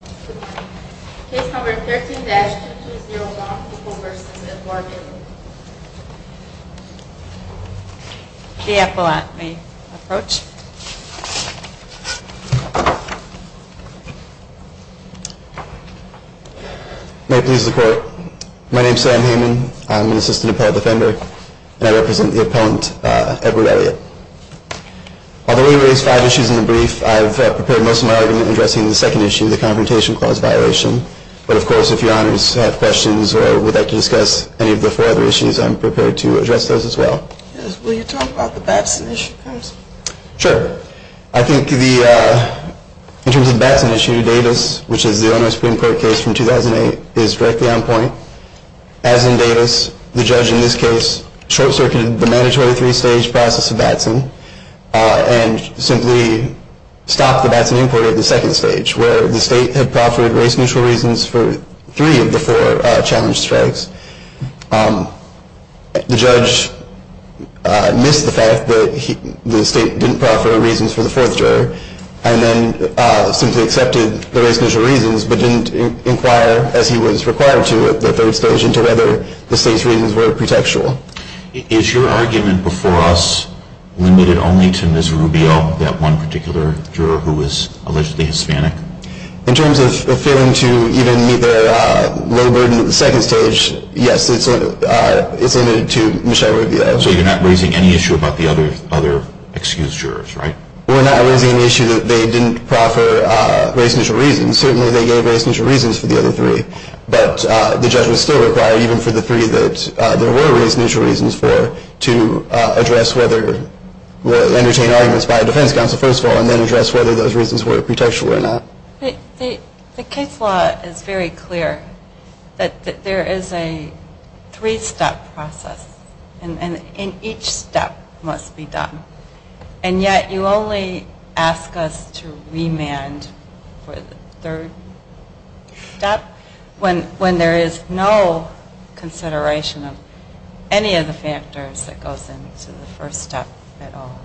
May it please the Court. My name is Sam Heyman. I am an Assistant Appellate Defender and I represent the Appellant Edward Elliott. Although we raised five issues in the brief, I have prepared most of my argument addressing the second issue, the Confrontation Clause violation. But of course, if your Honors have questions or would like to discuss any of the four other issues, I am prepared to address those as well. Will you talk about the Batson issue? Sure. I think in terms of the Batson issue, Davis, which is the Illinois Supreme Court case from 2008, is directly on point. As in Davis, the judge in this case short-circuited the mandatory three-stage process of Batson and simply stopped the Batson inquiry at the second stage, where the state had proffered race-neutral reasons for three of the four challenge strikes. The judge missed the fact that the state didn't proffer reasons for the fourth juror and then simply accepted the race-neutral reasons but didn't inquire, as he was required to at the third stage, into whether the state's reasons were pretextual. Is your argument before us limited only to Ms. Rubio, that one particular juror who was allegedly Hispanic? In terms of failing to even meet their low burden at the second stage, yes, it's limited to Michelle Rubio. So you're not raising any issue about the other excused jurors, right? We're not raising an issue that they didn't proffer race-neutral reasons. Certainly they gave race-neutral reasons for the other three, but the judge was still required, even for the three that there were race-neutral reasons for, to address whether, entertain arguments by a defense counsel, first of all, and then address whether those reasons were pretextual or not. The case law is very clear that there is a three-step process and each step must be done. And yet you only ask us to remand for the third step when there is no consideration of any of the factors that goes into the first step at all.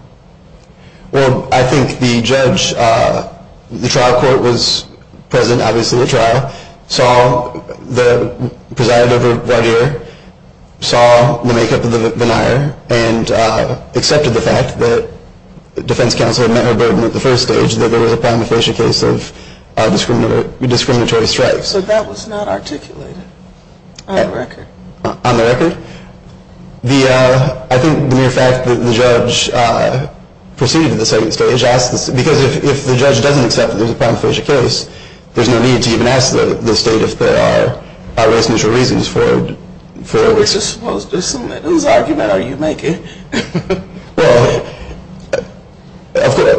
Well, I think the judge, the trial court was present, obviously, at the trial, saw the makeup of the denier and accepted the fact that the defense counsel had met her burden at the first stage, that there was a prima facie case of discriminatory strikes. So that was not articulated on the record? On the record. I think the mere fact that the judge proceeded to the second stage, because if the judge doesn't accept that there's a prima facie case, there's no need to even ask the state if there are race-neutral reasons for it. I'm just supposed to submit whose argument are you making? Well,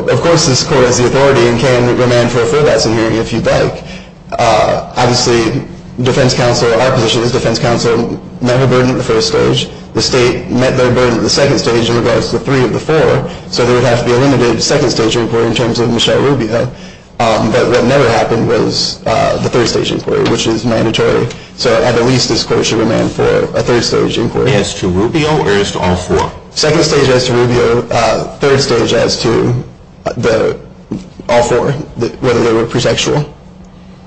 of course this court has the authority and can remand for a four-step hearing if you'd like. Obviously, defense counsel, our position is defense counsel met her burden at the first stage, the state met their burden at the second stage in regards to three of the four, so there would have to be a limited second-stage inquiry in terms of Michelle Rubio. But what never happened was the third-stage inquiry, which is mandatory. So at the least this court should remand for a third-stage inquiry. As to Rubio or as to all four? Second stage as to Rubio, third stage as to all four, whether they were presexual.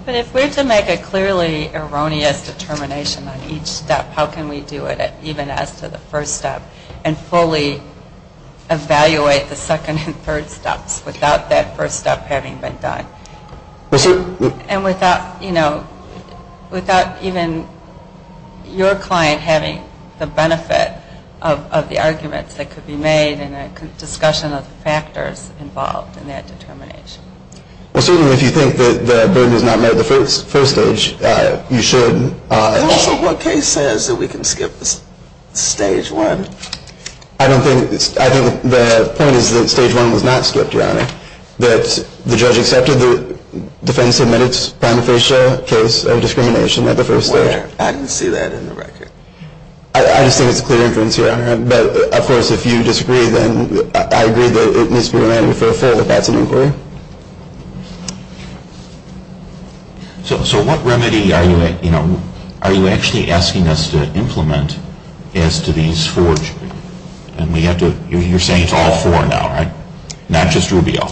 But if we're to make a clearly erroneous determination on each step, how can we do it even as to the first step and fully evaluate the second and third steps without that first step having been done? And without, you know, without even your client having the benefit of the arguments that could be made in a discussion of factors involved in that determination? Well, certainly if you think that the burden is not met at the first stage, you should. And also what case says that we can skip this stage one? I don't think, I think the point is that stage one was not skipped, Your Honor. That the judge accepted the defense-submitted prima facie case of discrimination at the first stage. Well, I didn't see that in the record. I just think it's a clear inference, Your Honor. But, of course, if you disagree, then I agree that it needs to be remanded for a full if that's an inquiry. So what remedy are you, you know, are you actually asking us to implement as to these four? And we have to, you're saying it's all four now, right? Not just Rubio.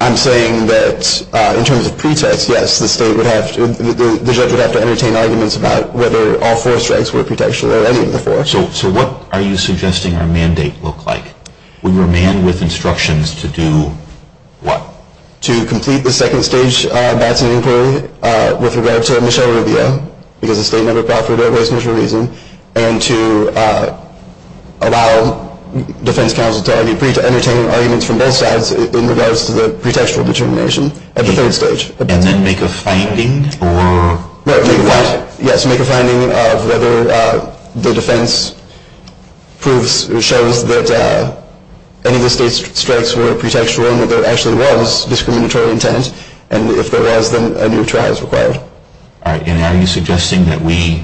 I'm saying that in terms of pretext, yes, the state would have to, the judge would have to entertain arguments about whether all four strikes were pretextual or any of the four. So what are you suggesting our mandate look like? We were manned with instructions to do what? To complete the second stage Batson inquiry with regard to Michelle Rubio, because the state never proffered her dismissal reason, and to allow defense counsel to entertain arguments from both sides in regards to the pretextual determination at the third stage. And then make a finding? Yes, make a finding of whether the defense proves or shows that any of the state's strikes were pretextual and that there actually was discriminatory intent, and if there was, then a new trial is required. All right. And are you suggesting that we,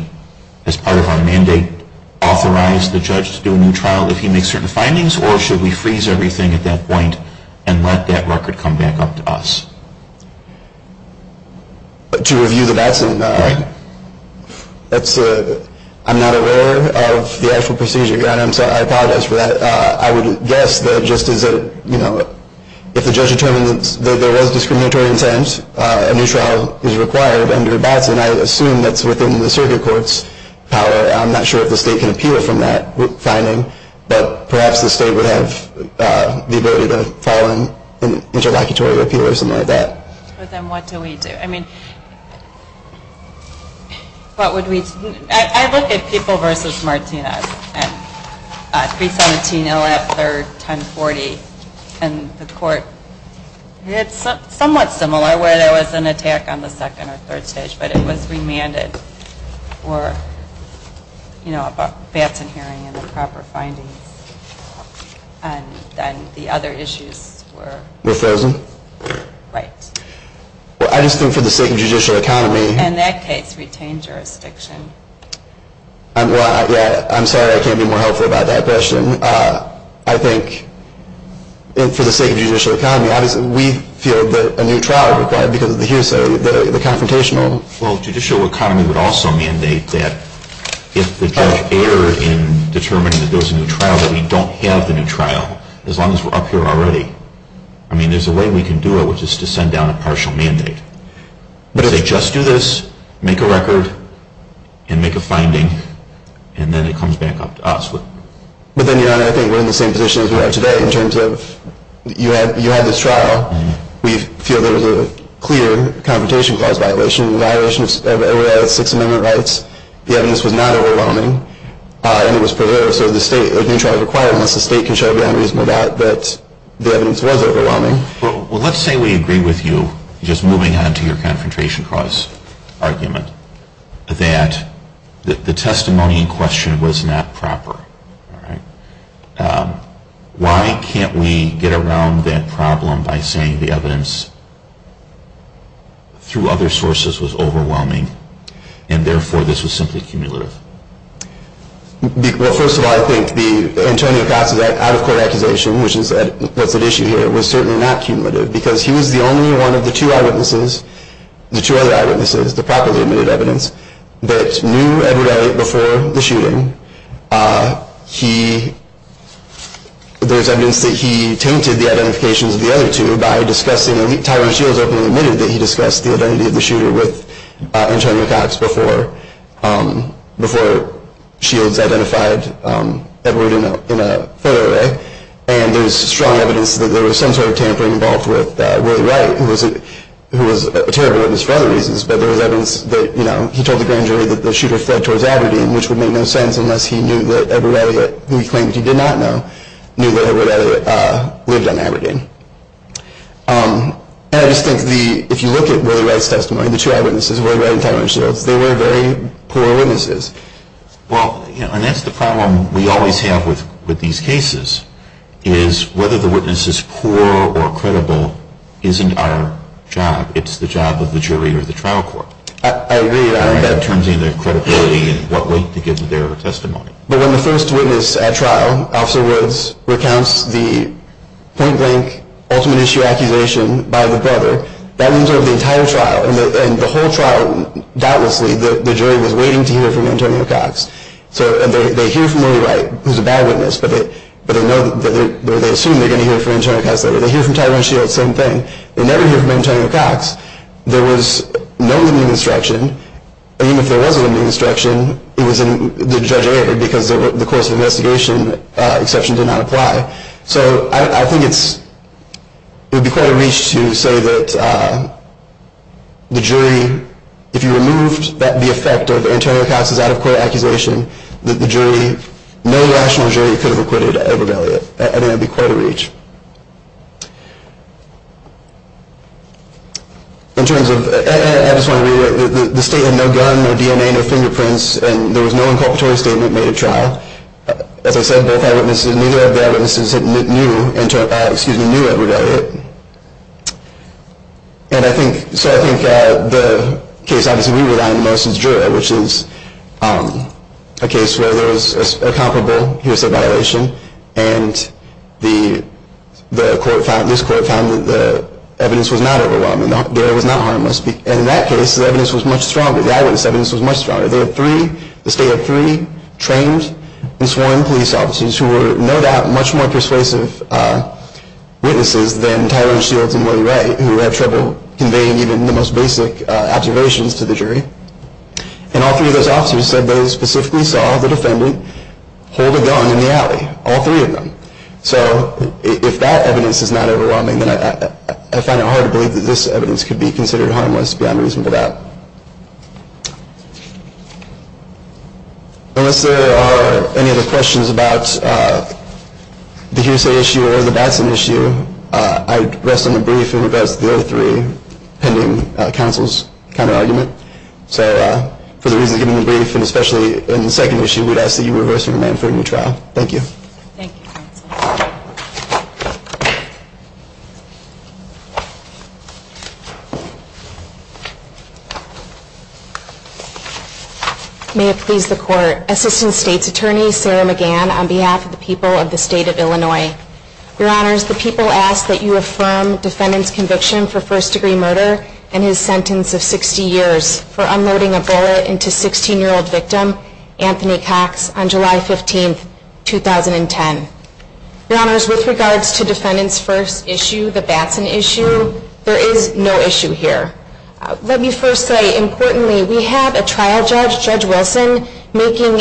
as part of our mandate, authorize the judge to do a new trial if he makes certain findings, or should we freeze everything at that point and let that record come back up to us? To review the Batson, I'm not aware of the actual procedure. I apologize for that. I would guess that just as a, you know, if the judge determined that there was discriminatory intent, and a new trial is required under Batson, I assume that's within the circuit court's power. I'm not sure if the state can appeal from that finding, but perhaps the state would have the ability to file an interlocutory appeal or something like that. But then what do we do? I mean, what would we do? I look at People v. Martinez and 317LF, third, 1040, and the court, it's somewhat similar where there was an attack on the second or third stage, but it was remanded for, you know, a Batson hearing and the proper findings. And then the other issues were? Were frozen. Right. Well, I just think for the sake of judicial economy. In that case, retain jurisdiction. Well, I'm sorry I can't be more helpful about that question. I think for the sake of judicial economy, obviously we feel that a new trial is required because of the hearsay, the confrontational. Well, judicial economy would also mandate that if the judge erred in determining that there was a new trial, that we don't have the new trial, as long as we're up here already. I mean, there's a way we can do it, which is to send down a partial mandate. But if they just do this, make a record, and make a finding, and then it comes back up to us. But then, Your Honor, I think we're in the same position as we are today in terms of you had this trial. We feel there was a clear confrontation clause violation. The violation of everybody else's Sixth Amendment rights. The evidence was not overwhelming. And it was preserved. So the state, a new trial is required unless the state can show beyond reasonable doubt that the evidence was overwhelming. Well, let's say we agree with you, just moving on to your confrontation clause argument, that the testimony in question was not proper. Why can't we get around that problem by saying the evidence through other sources was overwhelming, and therefore this was simply cumulative? Well, first of all, I think the Antonio Paz's out-of-court accusation, which is what's at issue here, was certainly not cumulative, because he was the only one of the two eyewitnesses, the two other eyewitnesses, the properly admitted evidence that knew Edward Elliot before the shooting. There's evidence that he tainted the identifications of the other two by discussing, and Tyler Shields openly admitted that he discussed the identity of the shooter with Antonio Cox before Shields identified Edward in a photo array. And there's strong evidence that there was some sort of tampering involved with Willie Wright, who was a terrible witness for other reasons. But there was evidence that he told the grand jury that the shooter fled towards Aberdeen, which would make no sense unless he knew that Edward Elliot, who he claimed he did not know, knew that Edward Elliot lived on Aberdeen. And I just think if you look at Willie Wright's testimony, the two eyewitnesses, Willie Wright and Tyler Shields, they were very poor witnesses. Well, and that's the problem we always have with these cases, is whether the witness is poor or credible isn't our job. It's the job of the jury or the trial court. I agree. In terms of their credibility and what weight to give their testimony. But when the first witness at trial, Officer Woods, recounts the point-blank ultimate issue accusation by the brother, that wins over the entire trial. And the whole trial, doubtlessly, the jury was waiting to hear from Antonio Cox. So they hear from Willie Wright, who's a bad witness, but they assume they're going to hear from Antonio Cox later. They hear from Tyler Shields, same thing. They never hear from Antonio Cox. There was no limiting instruction. Even if there was a limiting instruction, it was in the judge's favor, because the course of investigation exception did not apply. So I think it would be quite a reach to say that the jury, if you removed the effect of Antonio Cox's out-of-court accusation, that no rational jury could have acquitted Edward Elliott. I think that would be quite a reach. In terms of, I just want to reiterate, the state had no gun, no DNA, no fingerprints, and there was no inculpatory statement made at trial. As I said, both eyewitnesses, neither of the eyewitnesses knew Edward Elliott. And I think, so I think the case obviously we rely on the most is Jura, which is a case where there was a comparable hearsay violation, and the court found, this court found that the evidence was not overwhelming. The evidence was not harmless. And in that case, the evidence was much stronger. The eyewitness evidence was much stronger. There were three, the state had three trained and sworn police officers who were no doubt much more persuasive witnesses than Tyler Shields and Willie Ray, who had trouble conveying even the most basic observations to the jury. And all three of those officers said they specifically saw the defendant hold a gun in the alley. All three of them. So if that evidence is not overwhelming, then I find it hard to believe that this evidence could be considered harmless beyond reasonable doubt. Unless there are any other questions about the hearsay issue or the Batson issue, I'd rest on the brief in regards to the other three pending counsel's counterargument. So for the reasons given in the brief, and especially in the second issue, I would ask that you reverse your demand for a new trial. Thank you. Thank you. May it please the court. Assistant State's Attorney Sarah McGann on behalf of the people of the state of Illinois. Your Honors, the people ask that you affirm defendant's conviction for first degree murder and his sentence of 60 years for unloading a bullet into 16-year-old victim Anthony Cox on July 15, 2010. Your Honors, with regards to defendant's first issue, the Batson issue, there is no issue here. Let me first say, importantly, we have a trial judge, Judge Wilson, making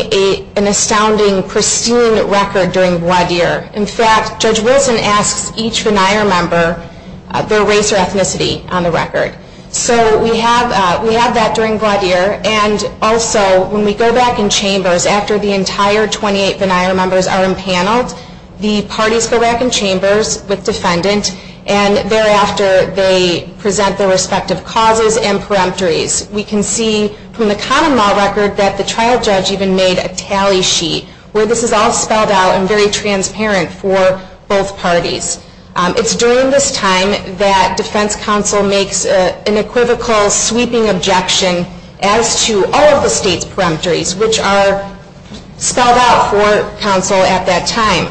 an astounding, pristine record during voir dire. In fact, Judge Wilson asks each veneer member their race or ethnicity on the record. So we have that during voir dire. And also, when we go back in chambers, after the entire 28 veneer members are impaneled, the parties go back in chambers with defendant, and thereafter they present their respective causes and peremptories. We can see from the common law record that the trial judge even made a tally sheet where this is all spelled out and very transparent for both parties. It's during this time that defense counsel makes an equivocal, sweeping objection as to all of the state's peremptories, which are spelled out for counsel at that time.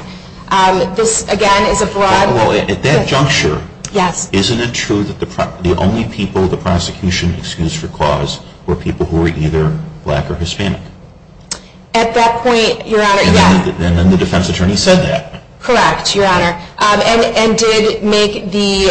This, again, is a broad... At that juncture, isn't it true that the only people the prosecution excused for cause were people who were either black or Hispanic? At that point, Your Honor, yes. And then the defense attorney said that. Correct, Your Honor. And did make the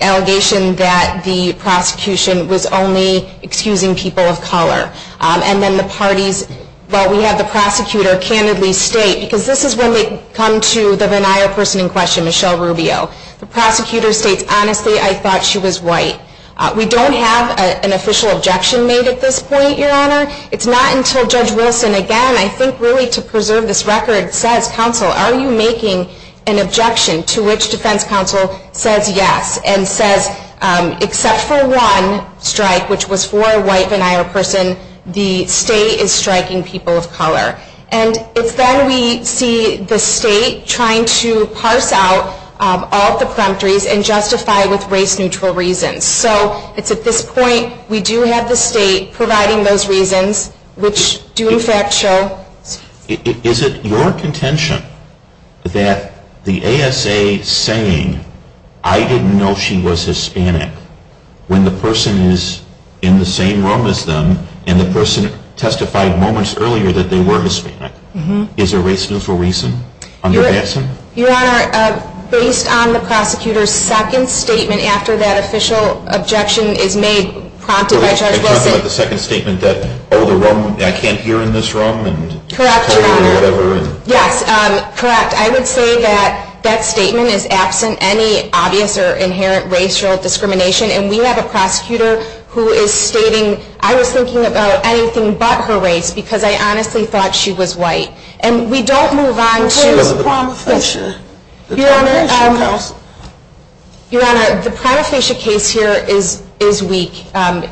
allegation that the prosecution was only excusing people of color. And then the parties... Well, we have the prosecutor candidly state, because this is when they come to the veneer person in question, Michelle Rubio. The prosecutor states, honestly, I thought she was white. We don't have an official objection made at this point, Your Honor. It's not until Judge Wilson, again, I think really to preserve this record, says, counsel, are you making an objection to which defense counsel says yes and says except for one strike, which was for a white veneer person, the state is striking people of color. And it's then we see the state trying to parse out all of the peremptories and justify it with race-neutral reasons. So it's at this point we do have the state providing those reasons, which do in fact show... Is it your contention that the ASA saying I didn't know she was Hispanic when the person is in the same room as them and the person testified moments earlier that they were Hispanic is a race-neutral reason under Batson? Your Honor, based on the prosecutor's second statement after that official objection is made prompted by Judge Wilson... You're talking about the second statement that, oh, I can't hear in this room? Correct, Your Honor. Yes, correct. I would say that that statement is absent any obvious or inherent racial discrimination, and we have a prosecutor who is stating I was thinking about anything but her race because I honestly thought she was white. And we don't move on to... But she was a prima facie counsel. Your Honor, the prima facie case here is weak,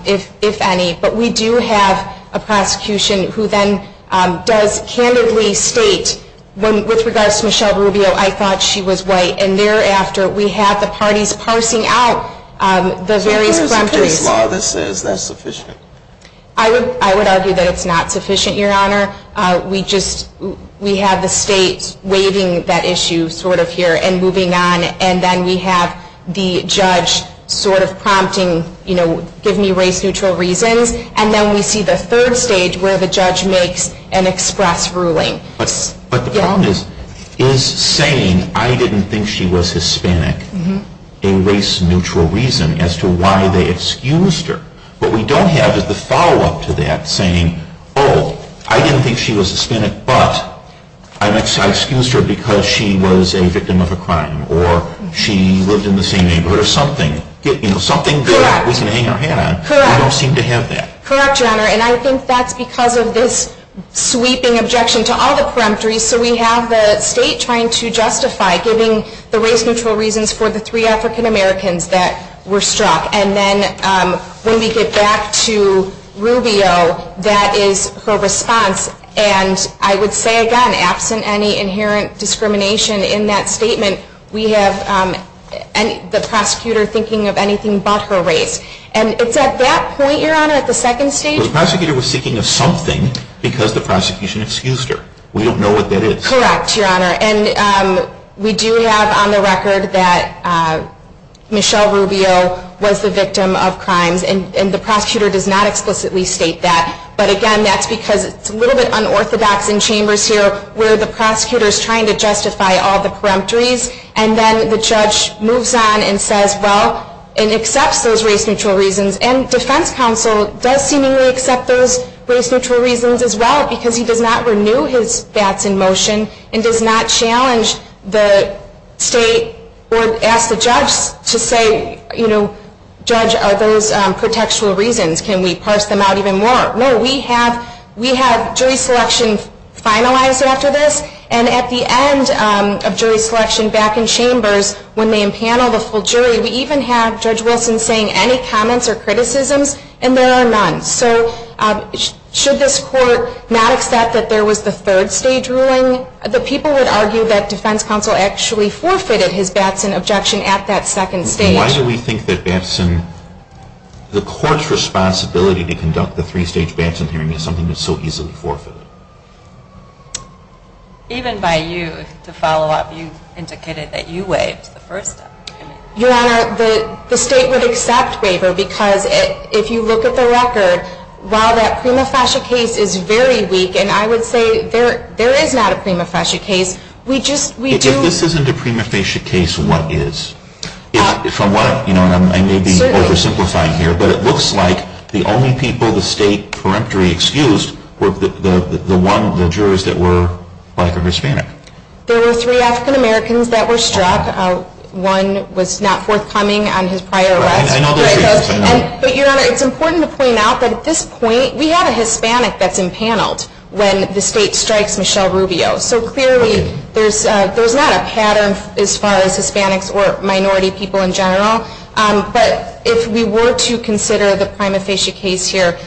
if any, but we do have a prosecution who then does candidly state with regards to Michelle Rubio, I thought she was white, and thereafter we have the parties parsing out the various grumpies. Is there a case law that says that's sufficient? I would argue that it's not sufficient, Your Honor. We have the states waiving that issue sort of here and moving on, and then we have the judge sort of prompting, you know, give me race-neutral reasons, and then we see the third stage where the judge makes an express ruling. But the problem is saying I didn't think she was Hispanic, a race-neutral reason as to why they excused her. What we don't have is the follow-up to that saying, oh, I didn't think she was Hispanic, but I excused her because she was a victim of a crime or she lived in the same neighborhood or something. You know, something that we can hang our hat on. Correct. We don't seem to have that. Correct, Your Honor, and I think that's because of this sweeping objection to all the peremptories. So we have the state trying to justify giving the race-neutral reasons for the three African-Americans that were struck. And then when we get back to Rubio, that is her response, and I would say, again, absent any inherent discrimination in that statement, we have the prosecutor thinking of anything but her race. And it's at that point, Your Honor, at the second stage. The prosecutor was thinking of something because the prosecution excused her. We don't know what that is. Correct, Your Honor, and we do have on the record that Michelle Rubio was the victim of crimes, and the prosecutor does not explicitly state that. But, again, that's because it's a little bit unorthodox in chambers here where the prosecutor is trying to justify all the peremptories, and then the judge moves on and says, well, and accepts those race-neutral reasons. And defense counsel does seemingly accept those race-neutral reasons as well because he does not renew his bats in motion and does not challenge the state or ask the judge to say, you know, judge, are those contextual reasons? Can we parse them out even more? No, we have jury selection finalized after this, and at the end of jury selection back in chambers when they impanel the full jury, we even have Judge Wilson saying any comments or criticisms, and there are none. So should this court not accept that there was the third stage ruling? The people would argue that defense counsel actually forfeited his bats in objection at that second stage. Why do we think that the court's responsibility to conduct the three-stage Batson hearing is something that's so easily forfeited? Even by you, to follow up, you indicated that you waived the first step. Your Honor, the state would accept waiver because if you look at the record, while that prima facie case is very weak, and I would say there is not a prima facie case, If this isn't a prima facie case, what is? I may be oversimplifying here, but it looks like the only people the state peremptory excused were the jurors that were black or Hispanic. There were three African-Americans that were struck. One was not forthcoming on his prior arrest. But, Your Honor, it's important to point out that at this point, we have a Hispanic that's impaneled when the state strikes Michelle Rubio. So clearly, there's not a pattern as far as Hispanics or minority people in general. But if we were to consider the prima facie case here,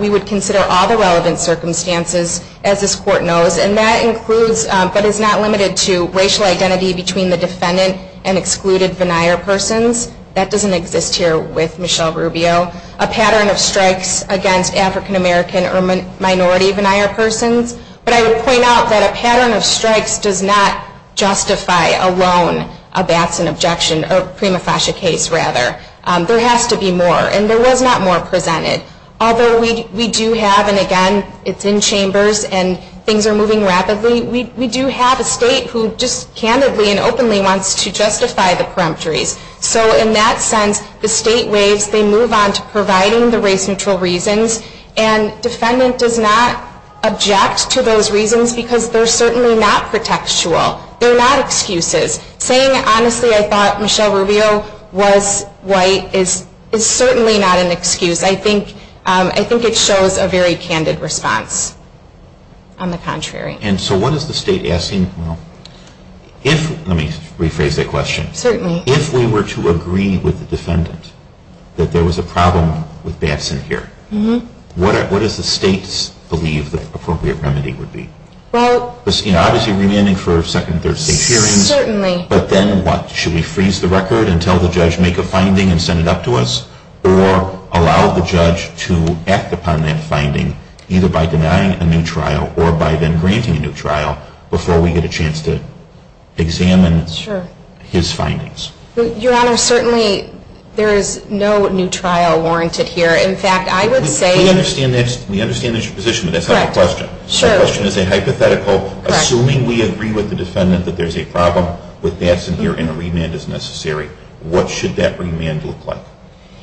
we would consider all the relevant circumstances, as this court knows. And that includes, but is not limited to, racial identity between the defendant and excluded venire persons. That doesn't exist here with Michelle Rubio. A pattern of strikes against African-American or minority venire persons. But I would point out that a pattern of strikes does not justify alone a Batson objection, or prima facie case, rather. There has to be more. And there was not more presented. Although we do have, and again, it's in chambers and things are moving rapidly, we do have a state who just candidly and openly wants to justify the peremptories. So in that sense, the state waves. They move on to providing the race-neutral reasons. And defendant does not object to those reasons because they're certainly not contextual. They're not excuses. Saying, honestly, I thought Michelle Rubio was white is certainly not an excuse. I think it shows a very candid response. On the contrary. And so what is the state asking? Let me rephrase that question. Certainly. If we were to agree with the defendant that there was a problem with Batson here, what does the state believe the appropriate remedy would be? Well, Obviously remanding for second and third state hearings. Certainly. But then what? Should we freeze the record and tell the judge, make a finding and send it up to us? Or allow the judge to act upon that finding either by denying a new trial or by then granting a new trial before we get a chance to examine his findings? Sure. Your Honor, certainly there is no new trial warranted here. In fact, I would say. We understand that's your position, but that's not the question. Sure. The question is a hypothetical. Correct. Assuming we agree with the defendant that there's a problem with Batson here and a remand is necessary, what should that remand look like?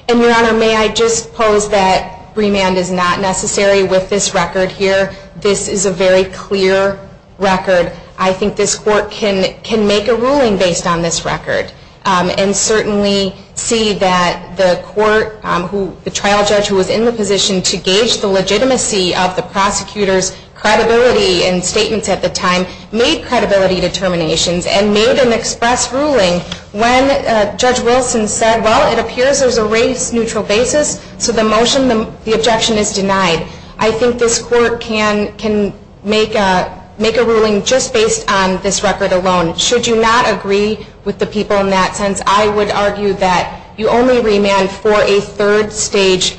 And, Your Honor, may I just pose that remand is not necessary with this record here. This is a very clear record. I think this court can make a ruling based on this record and certainly see that the trial judge who was in the position to gauge the legitimacy of the prosecutor's credibility and statements at the time made credibility determinations and made an express ruling when Judge Wilson said, well, it appears there's a race-neutral basis, so the motion, the objection is denied. I think this court can make a ruling just based on this record alone. Should you not agree with the people in that sense, I would argue that you only remand for a third-stage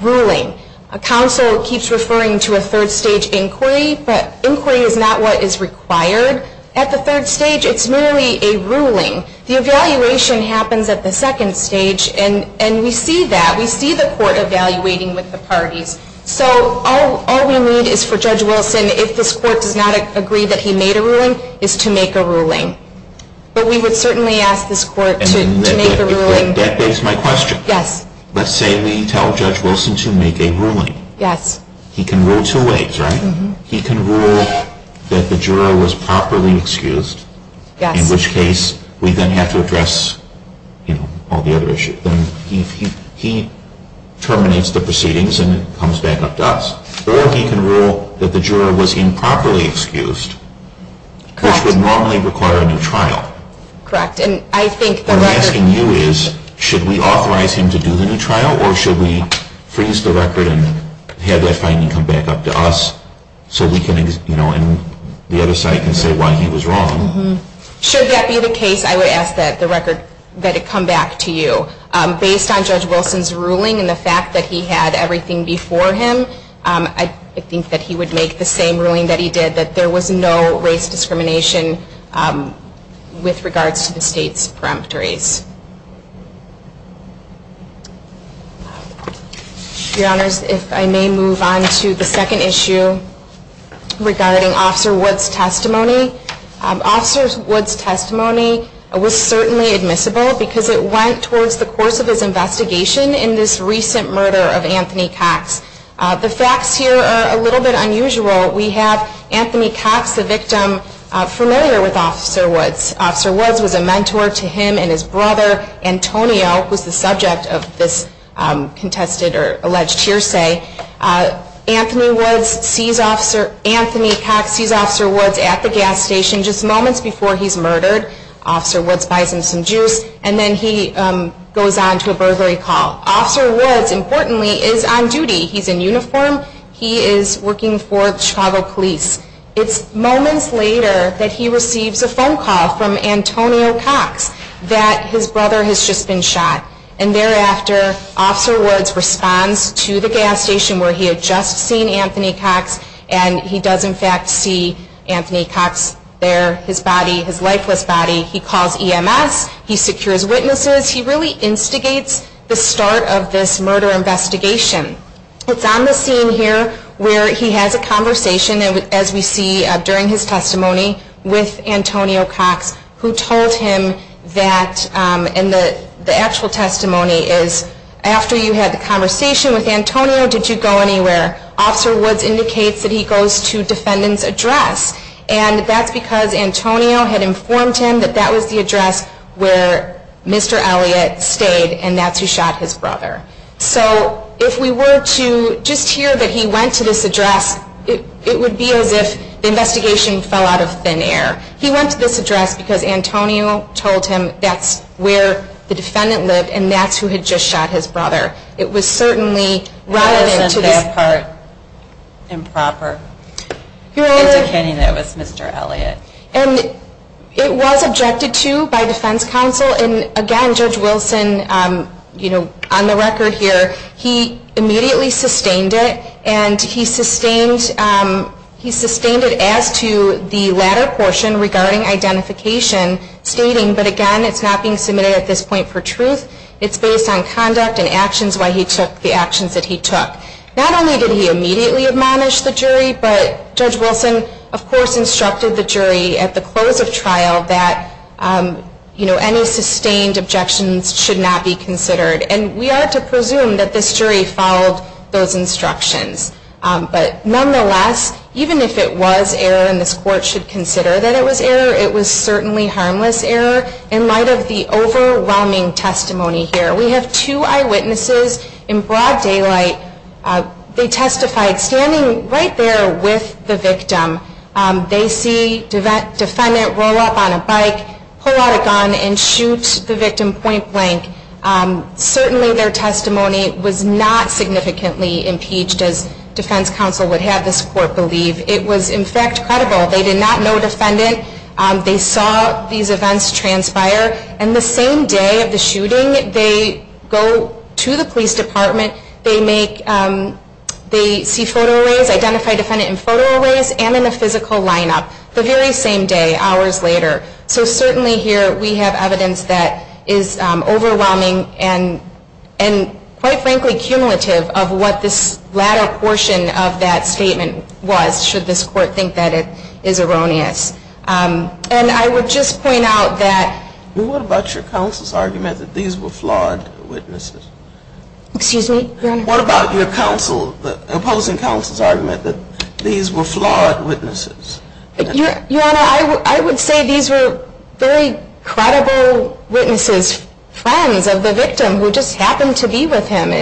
ruling. A counsel keeps referring to a third-stage inquiry, but inquiry is not what is required at the third stage. It's merely a ruling. The evaluation happens at the second stage, and we see that. We see the court evaluating with the parties. So all we need is for Judge Wilson, if this court does not agree that he made a ruling, is to make a ruling. But we would certainly ask this court to make a ruling. And that begs my question. Yes. Let's say we tell Judge Wilson to make a ruling. Yes. He can rule two ways, right? He can rule that the juror was properly excused. Yes. In which case, we then have to address, you know, all the other issues. Then he terminates the proceedings and it comes back up to us. Or he can rule that the juror was improperly excused, which would normally require a new trial. Correct. And I think the record... What I'm asking you is, should we authorize him to do the new trial, or should we freeze the record and have that finding come back up to us, so we can, you know, and the other side can say why he was wrong? Mm-hmm. Should that be the case, I would ask that the record, that it come back to you. Based on Judge Wilson's ruling and the fact that he had everything before him, I think that he would make the same ruling that he did, that there was no race discrimination with regards to the state's peremptories. Your Honors, if I may move on to the second issue regarding Officer Woods' testimony. Officer Woods' testimony was certainly admissible because it went towards the course of his investigation in this recent murder of Anthony Cox. The facts here are a little bit unusual. We have Anthony Cox, the victim, familiar with Officer Woods. Officer Woods was a mentor to him and his brother. His brother, Antonio, was the subject of this contested or alleged hearsay. Anthony Cox sees Officer Woods at the gas station just moments before he's murdered. Officer Woods buys him some juice, and then he goes on to a burglary call. Officer Woods, importantly, is on duty. He's in uniform. He is working for Chicago Police. It's moments later that he receives a phone call from Antonio Cox that his brother has just been shot. And thereafter, Officer Woods responds to the gas station where he had just seen Anthony Cox, and he does in fact see Anthony Cox there, his body, his lifeless body. He calls EMS. He secures witnesses. He really instigates the start of this murder investigation. It's on the scene here where he has a conversation, as we see during his testimony, with Antonio Cox who told him that, and the actual testimony is, after you had the conversation with Antonio, did you go anywhere? Officer Woods indicates that he goes to defendant's address, and that's because Antonio had informed him that that was the address where Mr. Elliott stayed, and that's who shot his brother. So if we were to just hear that he went to this address, it would be as if the investigation fell out of thin air. He went to this address because Antonio told him that's where the defendant lived and that's who had just shot his brother. It was certainly relevant to this. It wasn't that part improper indicating that it was Mr. Elliott. And it was objected to by defense counsel. Again, Judge Wilson, on the record here, he immediately sustained it, and he sustained it as to the latter portion regarding identification, stating, but again, it's not being submitted at this point for truth. It's based on conduct and actions why he took the actions that he took. Not only did he immediately admonish the jury, but Judge Wilson, of course, instructed the jury at the close of trial that, you know, any sustained objections should not be considered. And we are to presume that this jury followed those instructions. But nonetheless, even if it was error and this court should consider that it was error, it was certainly harmless error in light of the overwhelming testimony here. We have two eyewitnesses in broad daylight. They testified standing right there with the victim. They see defendant roll up on a bike, pull out a gun, and shoot the victim point blank. Certainly their testimony was not significantly impeached, as defense counsel would have this court believe. It was, in fact, credible. They did not know defendant. They saw these events transpire. And the same day of the shooting, they go to the police department. They see photo arrays, identify defendant in photo arrays, and in a physical lineup. The very same day, hours later. So certainly here we have evidence that is overwhelming and, quite frankly, cumulative of what this latter portion of that statement was, should this court think that it is erroneous. And I would just point out that... Well, what about your counsel's argument that these were flawed witnesses? Excuse me, Your Honor? What about your opposing counsel's argument that these were flawed witnesses? Your Honor, I would say these were very credible witnesses, friends of the victim who just happened to be with him,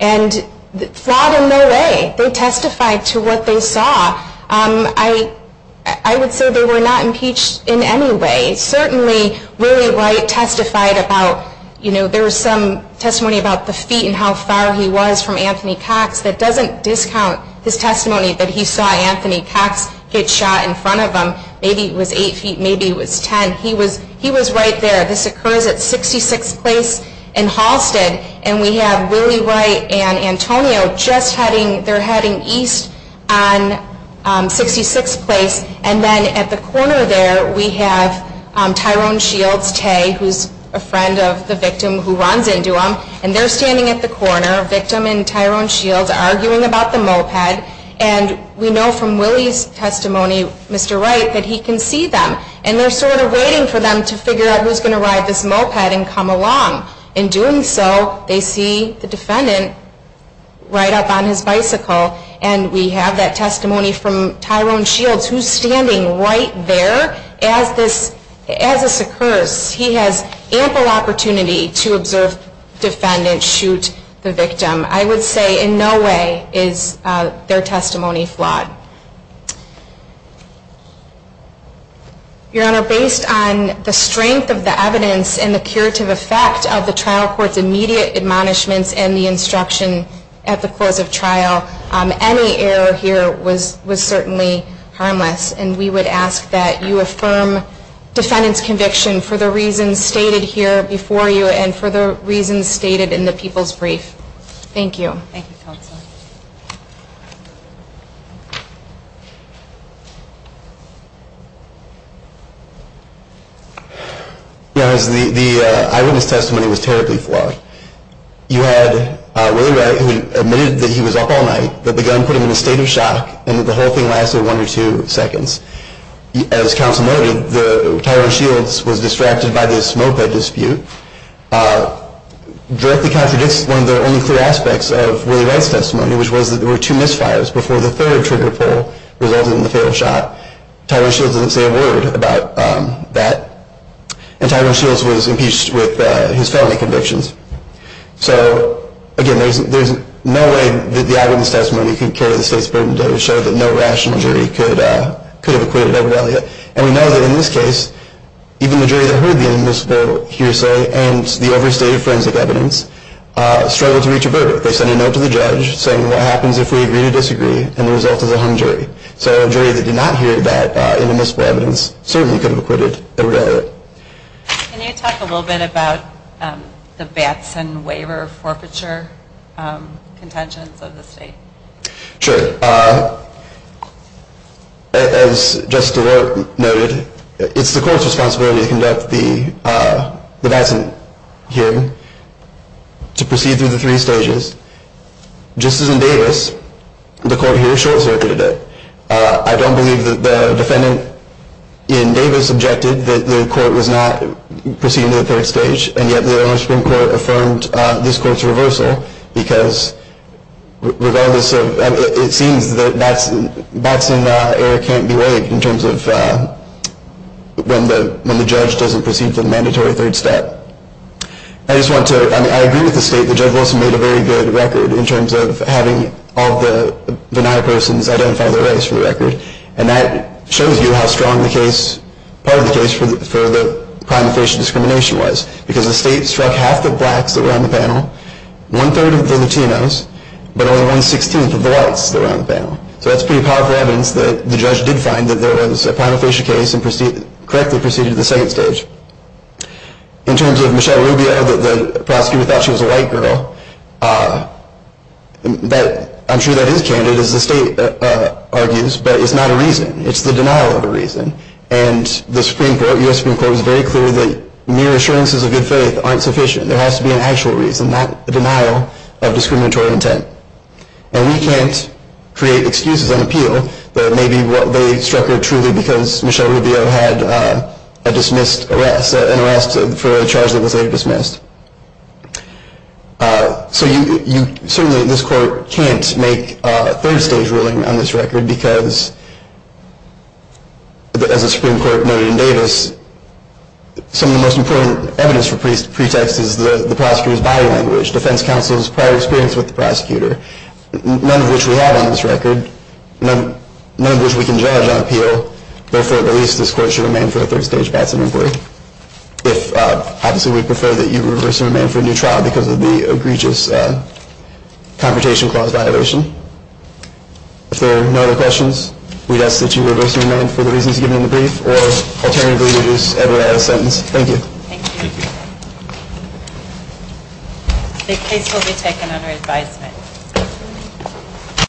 and flawed in no way. They testified to what they saw. I would say they were not impeached in any way. Certainly Willie Wright testified about, you know, there was some testimony about the feet and how far he was from Anthony Cox. That doesn't discount his testimony that he saw Anthony Cox get shot in front of him. Maybe it was 8 feet, maybe it was 10. He was right there. This occurs at 66th Place in Halsted. And we have Willie Wright and Antonio just heading, they're heading east on 66th Place. And then at the corner there we have Tyrone Shields, Tae, who's a friend of the victim who runs into him. And they're standing at the corner, victim and Tyrone Shields, arguing about the moped. And we know from Willie's testimony, Mr. Wright, that he can see them. And they're sort of waiting for them to figure out who's going to ride this moped and come along. In doing so, they see the defendant ride up on his bicycle. And we have that testimony from Tyrone Shields, who's standing right there as this occurs. He has ample opportunity to observe defendants shoot the victim. I would say in no way is their testimony flawed. Your Honor, based on the strength of the evidence and the curative effect of the trial court's immediate admonishments and the instruction at the course of trial, any error here was certainly harmless. And we would ask that you affirm defendant's conviction for the reasons stated here before you and for the reasons stated in the people's brief. Thank you. Thank you, Counsel. Your Honor, the eyewitness testimony was terribly flawed. You had Willie Wright, who admitted that he was up all night, that the gun put him in a state of shock and that the whole thing lasted one or two seconds. As Counsel noted, Tyrone Shields was distracted by this moped dispute. Directly contradicts one of the only clear aspects of Willie Wright's testimony, which was that there were two misfires before the third trigger pull resulted in the failed shot. Tyrone Shields doesn't say a word about that. And Tyrone Shields was impeached with his felony convictions. So again, there's no way that the eyewitness testimony can carry the state's burden to show that no rational jury could have acquitted Edward Elliott. And we know that in this case, even the jury that heard the inadmissible hearsay and the overstated forensic evidence struggled to reach a verdict. They sent a note to the judge saying, what happens if we agree to disagree? And the result is a hung jury. So a jury that did not hear that inadmissible evidence certainly could have acquitted Edward Elliott. Can you talk a little bit about the Batson waiver forfeiture contentions of the state? Sure. As Justice DeLorte noted, it's the court's responsibility to conduct the Batson hearing, to proceed through the three stages. Just as in Davis, the court here short-circuited it. I don't believe that the defendant in Davis objected that the court was not proceeding to the third stage, and yet the Illinois Supreme Court affirmed this court's reversal, because it seems that Batson error can't be waived in terms of when the judge doesn't proceed to the mandatory third step. I agree with the state that Judge Wilson made a very good record in terms of having all the denier persons identify their race for the record, and that shows you how strong part of the case for the prima facie discrimination was, because the state struck half the blacks that were on the panel, one-third of the Latinos, but only one-sixteenth of the whites that were on the panel. So that's pretty powerful evidence that the judge did find that there was a prima facie case and correctly proceeded to the second stage. In terms of Michelle Rubio, the prosecutor thought she was a white girl. I'm sure that is candid, as the state argues, but it's not a reason. It's the denial of a reason, and the Supreme Court, U.S. Supreme Court, was very clear that mere assurances of good faith aren't sufficient. There has to be an actual reason, not a denial of discriminatory intent. And we can't create excuses and appeal that maybe they struck her truly because Michelle Rubio had a dismissed arrest, an arrest for a charge that was later dismissed. So you certainly, this court, can't make a third stage ruling on this record because, as the Supreme Court noted in Davis, some of the most important evidence for pretext is the prosecutor's body language, defense counsel's prior experience with the prosecutor, none of which we have on this record, none of which we can judge on appeal. But for the least, this court should remain for a third stage passing in brief. Obviously, we prefer that you reverse your demand for a new trial because of the egregious Confrontation Clause violation. If there are no other questions, we'd ask that you reverse your demand for the reasons given in the brief or alternatively reduce every other sentence. Thank you. Thank you. The case will be taken under advisement.